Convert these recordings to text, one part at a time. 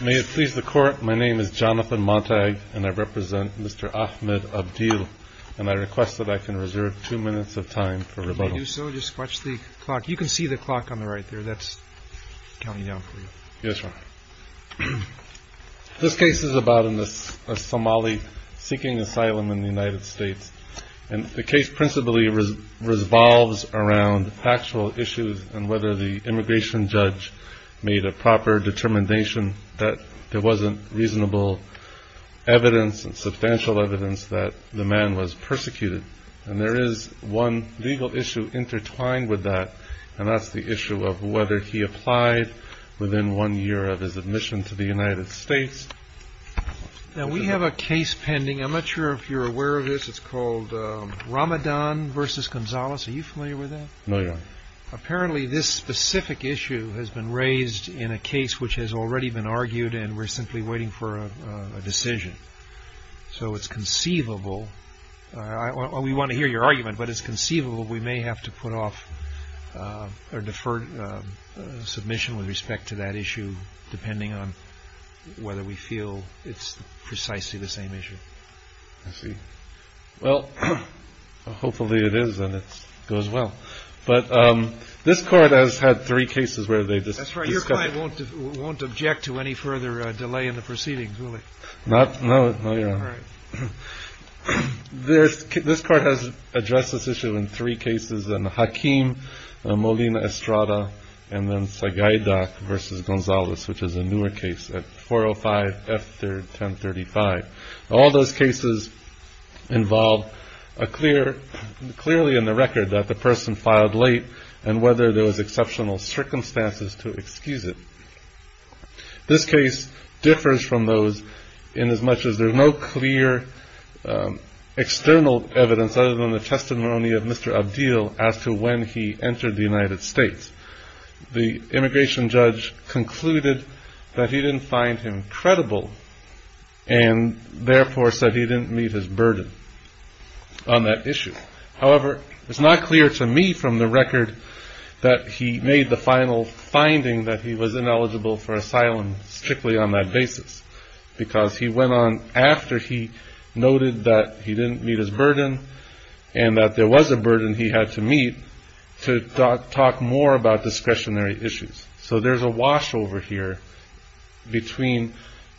May it please the Court, my name is Jonathan Montag and I represent Mr. Ahmed Abdille and I request that I can reserve two minutes of time for rebuttal. If you do so, just watch the clock. You can see the clock on the right there. That's counting down for you. Yes, Your Honor. This case is about a Somali seeking asylum in the United States. And the case principally revolves around factual issues and whether the immigration judge made a proper determination that there wasn't reasonable evidence and substantial evidence that the man was persecuted. And there is one legal issue intertwined with that and that's the issue of whether he applied within one year of his admission to the United States. Now, we have a case pending. I'm not sure if you're aware of this. It's called Ramadan v. Gonzalez. Are you familiar with that? No, Your Honor. Apparently, this specific issue has been raised in a case which has already been argued and we're simply waiting for a decision. So it's conceivable. We want to hear your argument, but it's conceivable we may have to put off or defer submission with respect to that issue depending on whether we feel it's precisely the same issue. I see. Well, hopefully it is and it goes well. But this court has had three cases where they just won't object to any further delay in the proceedings, will it? Not no. All right. This this court has addressed this issue in three cases and Hakeem Molina Estrada and then Sagaidak v. Gonzalez, which is a newer case at 405 F. 1035. All those cases involve a clear clearly in the record that the person filed late and whether there was exceptional circumstances to excuse it. This case differs from those in as much as there's no clear external evidence other than the testimony of Mr. Abdiel as to when he entered the United States. The immigration judge concluded that he didn't find him credible and therefore said he didn't meet his burden on that issue. However, it's not clear to me from the record that he made the final finding that he was ineligible for asylum strictly on that basis because he went on after he noted that he didn't meet his burden and that there was a burden he had to meet to talk more about discretionary issues. So there's a wash over here between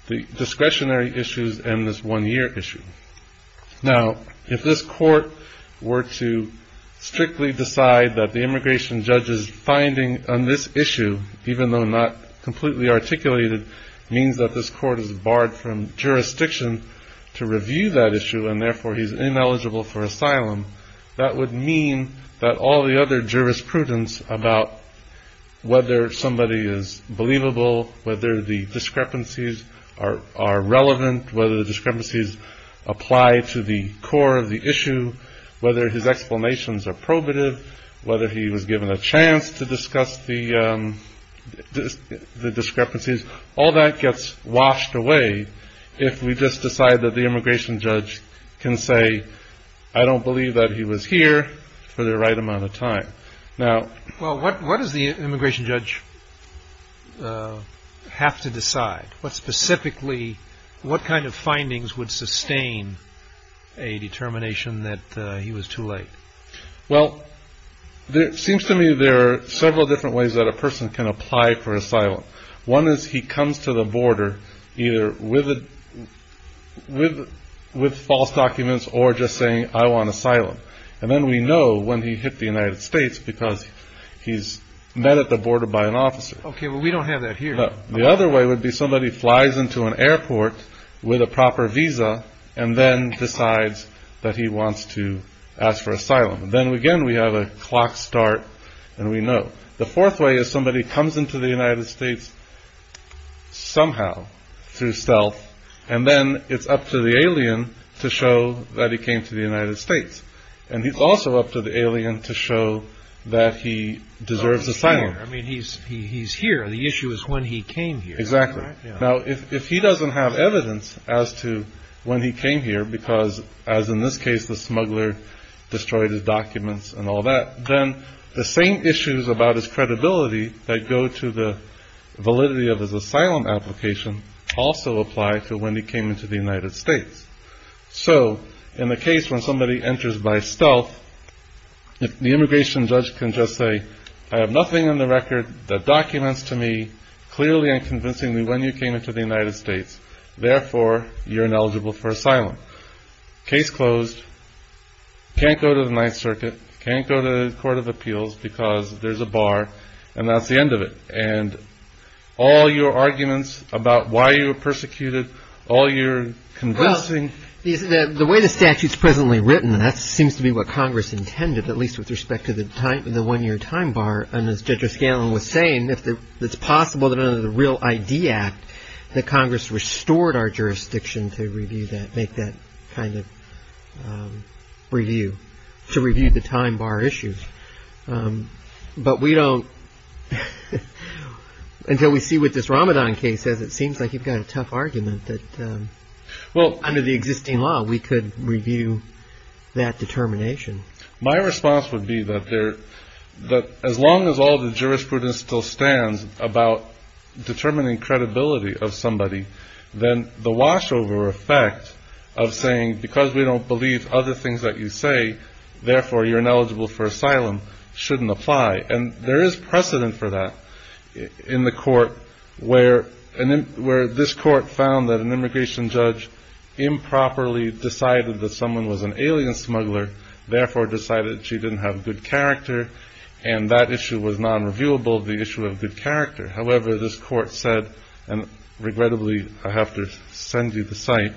the discretionary issues and this one year issue. Now, if this court were to strictly decide that the immigration judge's finding on this issue, even though not completely articulated, means that this court is barred from jurisdiction to review that issue and therefore he's ineligible for asylum, that would mean that all the other jurisprudence about whether somebody is believable, whether the discrepancies are relevant, whether the discrepancies apply to the core of the issue, whether his explanations are probative, whether he was given a chance to discuss the discrepancies, all that gets washed away if we just decide that the immigration judge can say, I don't believe that he was here for the right amount of time. Now, what does the immigration judge have to decide? What specifically, what kind of findings would sustain a determination that he was too late? Well, it seems to me there are several different ways that a person can apply for asylum. One is he comes to the border either with false documents or just saying, I want asylum. And then we know when he hit the United States because he's met at the border by an officer. OK, well, we don't have that here. The other way would be somebody flies into an airport with a proper visa and then decides that he wants to ask for asylum. Then again, we have a clock start and we know. The fourth way is somebody comes into the United States somehow through stealth and then it's up to the alien to show that he came to the United States. And he's also up to the alien to show that he deserves asylum. I mean, he's here. The issue is when he came here. Exactly. Now, if he doesn't have evidence as to when he came here, because as in this case, the smuggler destroyed his documents and all that, then the same issues about his credibility that go to the validity of his asylum application also apply to when he came into the United States. So in the case when somebody enters by stealth, the immigration judge can just say, I have nothing on the record, the documents to me. Clearly and convincingly, when you came into the United States, therefore, you're ineligible for asylum. Case closed. Can't go to the Ninth Circuit. Can't go to the Court of Appeals because there's a bar and that's the end of it. And all your arguments about why you were persecuted, all your convincing. The way the statute is presently written, that seems to be what Congress intended, at least with respect to the one year time bar. And as Judge O'Scanlan was saying, if it's possible that under the Real ID Act, that Congress restored our jurisdiction to review that, make that kind of review, to review the time bar issues. But we don't, until we see what this Ramadan case says, it seems like you've got a tough argument that under the existing law, we could review that determination. My response would be that as long as all the jurisprudence still stands about determining credibility of somebody, then the wash over effect of saying, because we don't believe other things that you say, therefore, you're ineligible for asylum, shouldn't apply. And there is precedent for that in the court where this court found that an immigration judge improperly decided that someone was an alien smuggler, therefore, decided she didn't have good character. And that issue was non-reviewable, the issue of good character. However, this court said, and regrettably, I have to send you the site.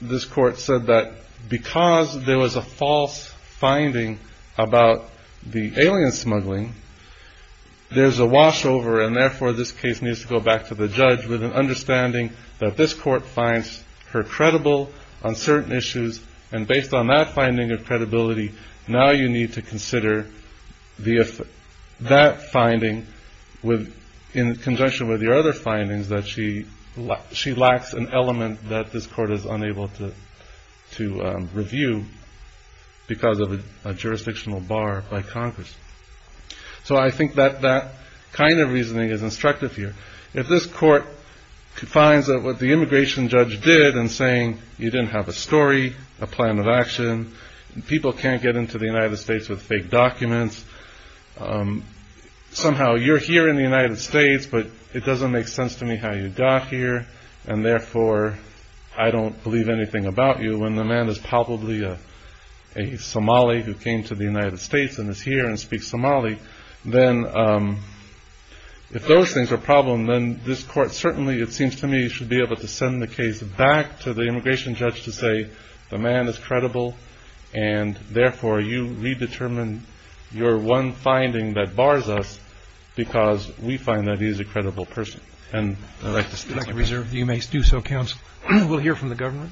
This court said that because there was a false finding about the alien smuggling, there's a wash over, and therefore, this case needs to go back to the judge with an understanding that this court finds her credible on certain issues. And based on that finding of credibility, now you need to consider that finding in conjunction with your other findings that she lacks an element that this court is unable to review because of a jurisdictional bar by Congress. So I think that that kind of reasoning is instructive here. If this court finds that what the immigration judge did in saying you didn't have a story, a plan of action, and people can't get into the United States with fake documents, somehow you're here in the United States, but it doesn't make sense to me how you got here, and therefore, I don't believe anything about you. When the man is probably a Somali who came to the United States and is here and speaks Somali, then if those things are a problem, then this court certainly, it seems to me, should be able to send the case back to the immigration judge to say, the man is credible, and therefore, you redetermine your one finding that bars us because we find that he's a credible person. And I'd like to thank you. Reserved. You may do so, counsel. We'll hear from the government.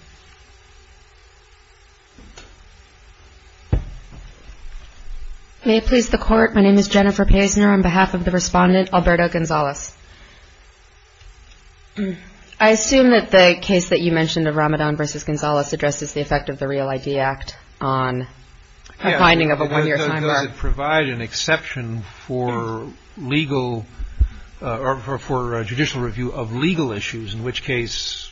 May it please the court, my name is Jennifer Paisner on behalf of the respondent, Alberto Gonzalez. I assume that the case that you mentioned of Ramadan versus Gonzalez addresses the effect of the Real ID Act on a finding of a one-year time limit. Does it provide an exception for judicial review of legal issues, in which case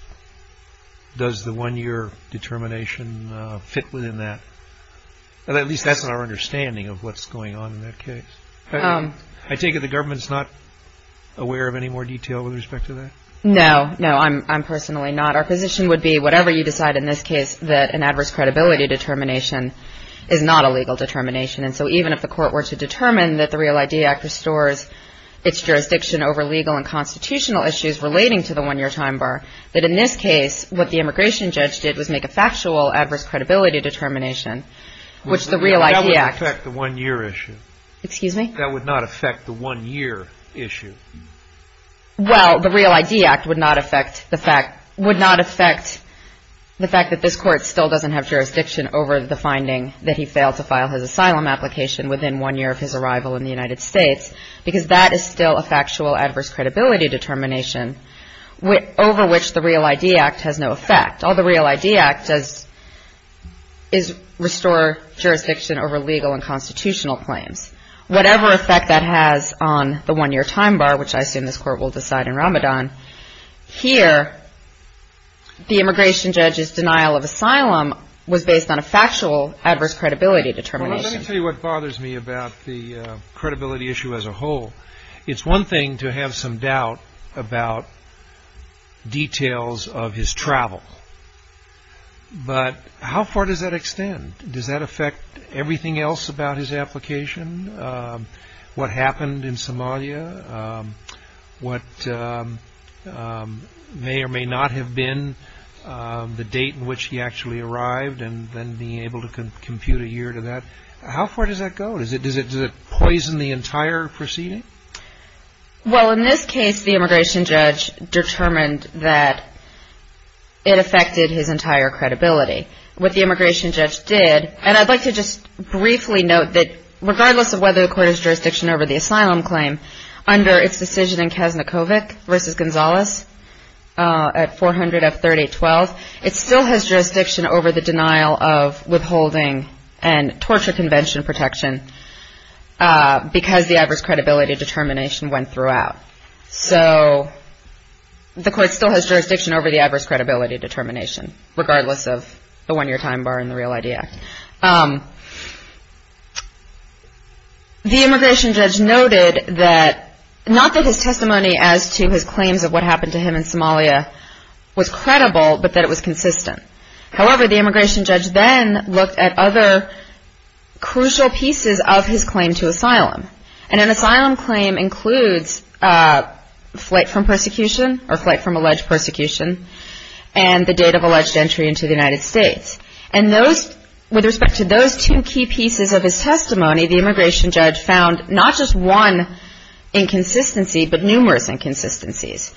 does the one-year determination fit within that? At least that's our understanding of what's going on in that case. I take it the government's not aware of any more detail with respect to that? No, no, I'm personally not. Our position would be, whatever you decide in this case, that an adverse credibility determination is not a legal determination. And so even if the court were to determine that the Real ID Act restores its jurisdiction over legal and constitutional issues relating to the one-year time bar, that in this case, what the immigration judge did was make a factual adverse credibility determination, which the Real ID Act... That would affect the one-year issue. Excuse me? That would not affect the one-year issue. Well, the Real ID Act would not affect the fact... would not affect the fact that this court still doesn't have jurisdiction over the finding that he failed to file his asylum application within one year of his arrival in the United States, because that is still a factual adverse credibility determination over which the Real ID Act has no effect. All the Real ID Act does is restore jurisdiction over legal and constitutional claims. Whatever effect that has on the one-year time bar, which I assume this court will decide in Ramadan, here, the immigration judge's denial of asylum was based on a factual adverse credibility determination. Well, let me tell you what bothers me about the credibility issue as a whole. It's one thing to have some doubt about details of his travel, but how far does that extend? Does that affect everything else about his application? What happened in Somalia? What may or may not have been the date in which he actually arrived and then being able to compute a year to that? How far does that go? Does it poison the entire proceeding? Well, in this case, the immigration judge determined that it affected his entire credibility. What the immigration judge did, and I'd like to just briefly note that regardless of whether the court has jurisdiction over the asylum claim under its decision in Kaznikovic v. Gonzales at 400 F. 3812, it still has jurisdiction over the denial of withholding and torture convention protection because the adverse credibility determination went throughout. So, the court still has jurisdiction over the adverse credibility determination regardless of the one-year time bar in the Real ID Act. The immigration judge noted that, not that his testimony as to his claims of what happened to him in Somalia was credible, but that it was consistent. However, the immigration judge then looked at other crucial pieces of his claim to asylum. And an asylum claim includes flight from persecution or flight from alleged persecution and the date of alleged entry into the United States. And those, with respect to those two key pieces of his testimony, the immigration judge found not just one inconsistency, but numerous inconsistencies.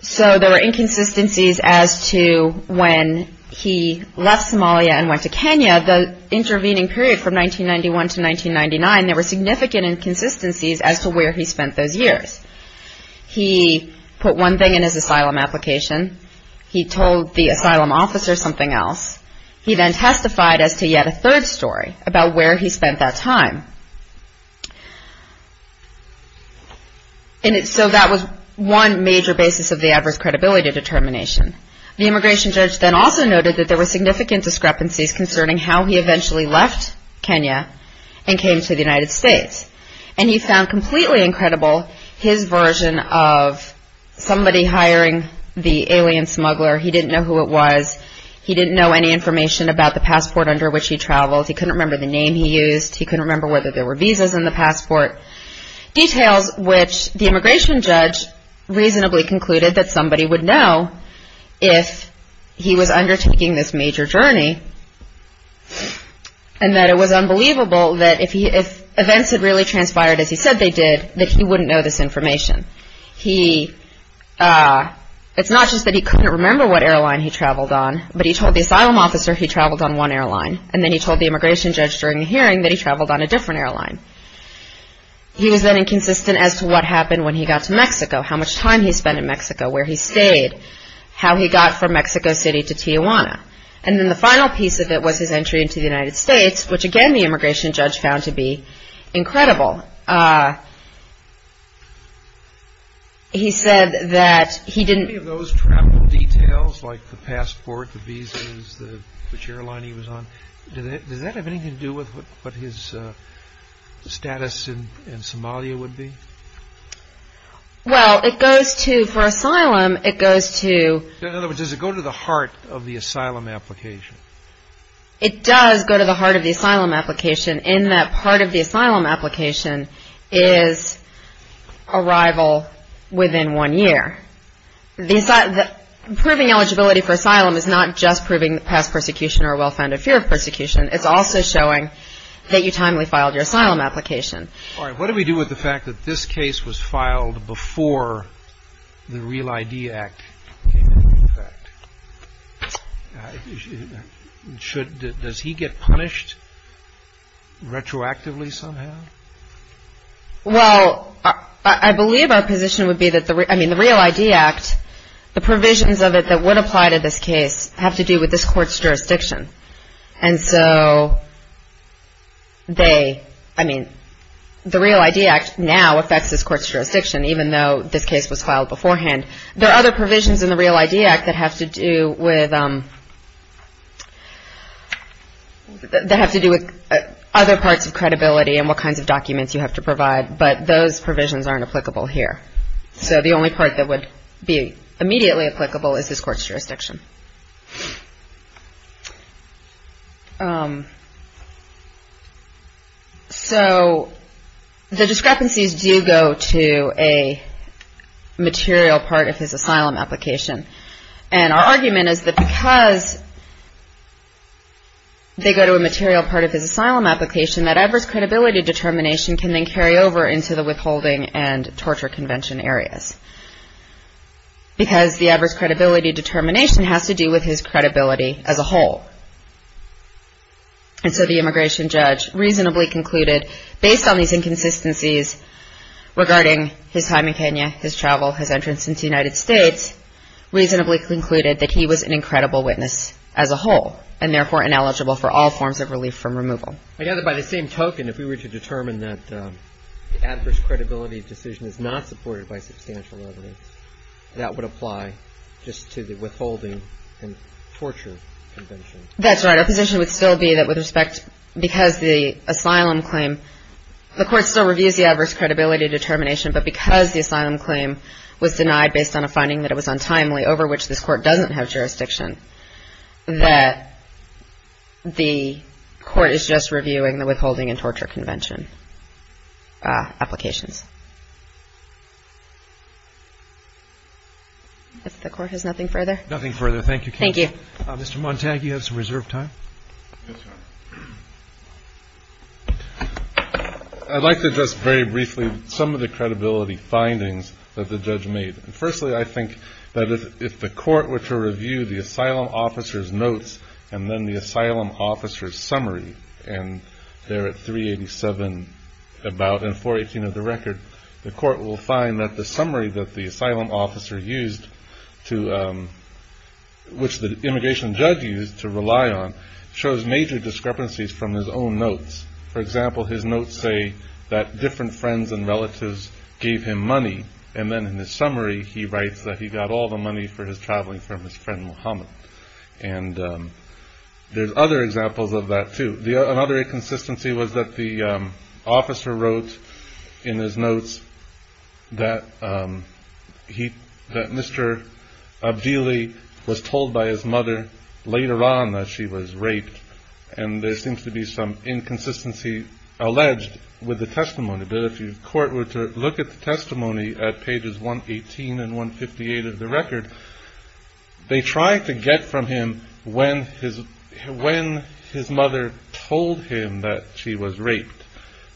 So, there were inconsistencies as to when he left Somalia and went to Kenya, the intervening period from 1991 to 1999, there were significant inconsistencies as to where he spent those years. He put one thing in his asylum application. He told the asylum officer something else. He then testified as to yet a third story about where he spent that time. And so, that was one major basis of the adverse credibility determination. The immigration judge then also noted that there were significant discrepancies concerning how he eventually left Kenya and came to the United States. And he found completely incredible his version of somebody hiring the alien smuggler. He didn't know who it was. He didn't know any information about the passport under which he traveled. He couldn't remember the name he used. He couldn't remember whether there were visas in the passport. Details which the immigration judge reasonably concluded that somebody would know if he was undertaking this major journey. And that it was unbelievable that if events had really transpired as he said they did, that he wouldn't know this information. He, it's not just that he couldn't remember what airline he traveled on, but he told the asylum officer he traveled on one airline. And then he told the immigration judge during the hearing that he traveled on a different airline. He was then inconsistent as to what happened when he got to Mexico, how much time he spent in Mexico, where he stayed, how he got from Mexico City to Tijuana. And then the final piece of it was his entry into the United States, which again, the immigration judge found to be incredible. He said that he didn't. Those travel details like the passport, the visas, which airline he was on, does that have anything to do with what his status in Somalia would be? Well, it goes to, for asylum, it goes to. In other words, does it go to the heart of the asylum application? It does go to the heart of the asylum application in that part of the asylum application is arrival within one year. The, proving eligibility for asylum is not just proving past persecution or a well-founded fear of persecution. It's also showing that you timely filed your asylum application. All right, what do we do with the fact that this case was filed before the Real ID Act came into effect? Should, does he get punished retroactively somehow? Well, I believe our position would be that the, I mean, the Real ID Act, the provisions of it that would apply to this case have to do with this court's jurisdiction. And so, they, I mean, the Real ID Act now affects this court's jurisdiction, even though this case was filed beforehand. There are other provisions in the Real ID Act that have to do with, that have to do with other parts of credibility and what kinds of documents you have to provide, but those provisions aren't applicable here. So, the only part that would be immediately applicable is this court's jurisdiction. So, the discrepancies do go to a material part of his asylum application. And our argument is that because they go to a material part of his asylum application, that he was an incredible witness as a whole, and therefore ineligible for all forms we would have to go back over into the Withholding and Torture Convention areas. Because the adverse credibility determination has to do with his credibility as a whole. And so, the immigration judge reasonably concluded, based on these inconsistencies regarding his time in Kenya, his travel, his entrance into the United States, reasonably concluded that he was an incredible witness as a whole, and therefore ineligible for all forms of relief from removal. I gather by the same token, if we were to determine that the adverse credibility decision is not supported by substantial evidence, that would apply just to the Withholding and Torture Convention. That's right. Our position would still be that with respect, because the asylum claim, the court still reviews the adverse credibility determination, but because the asylum claim was denied based on a finding that it was untimely, over which this court doesn't have jurisdiction, that the court is just reviewing the Withholding and Torture Convention applications. If the court has nothing further. Nothing further. Thank you. Thank you. Mr. Montague, you have some reserve time. Yes, Your Honor. I'd like to just very briefly, some of the credibility findings that the judge made. Firstly, I think that if the court were to review the asylum officer's notes, and then the asylum officer's summary, and they're at 387, about, and 418 of the record, the court will find that the summary that the asylum officer used to, which the immigration judge used to rely on, shows major discrepancies from his own notes. For example, his notes say that different friends and relatives gave him money, and then in the summary, he writes that he got all the money for his traveling from his friend, Muhammad. And there's other examples of that, too. Another inconsistency was that the officer wrote in his notes that Mr. Abdili was told by his mother later on that she was raped, and there seems to be some inconsistency alleged with the testimony. But if the court were to look at the testimony at pages 118 and 158 of the record, they tried to get from him when his mother told him that she was raped,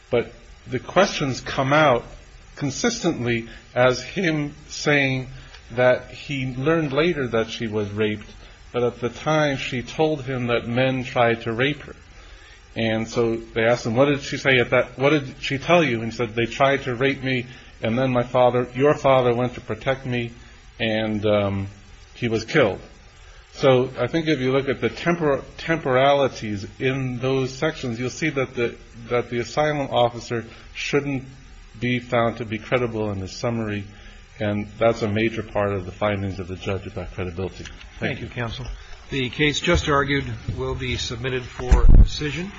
but the questions come out consistently as him saying that he learned later that she was raped, but at the time, she told him that men tried to rape her. And so they asked him, what did she tell you? And he said, they tried to rape me, and then your father went to protect me, and he was killed. So I think if you look at the temporalities in those sections, you'll see that the asylum officer shouldn't be found to be credible in the summary, and that's a major part of the findings of the judge about credibility. Thank you, counsel. The case just argued will be submitted for decision.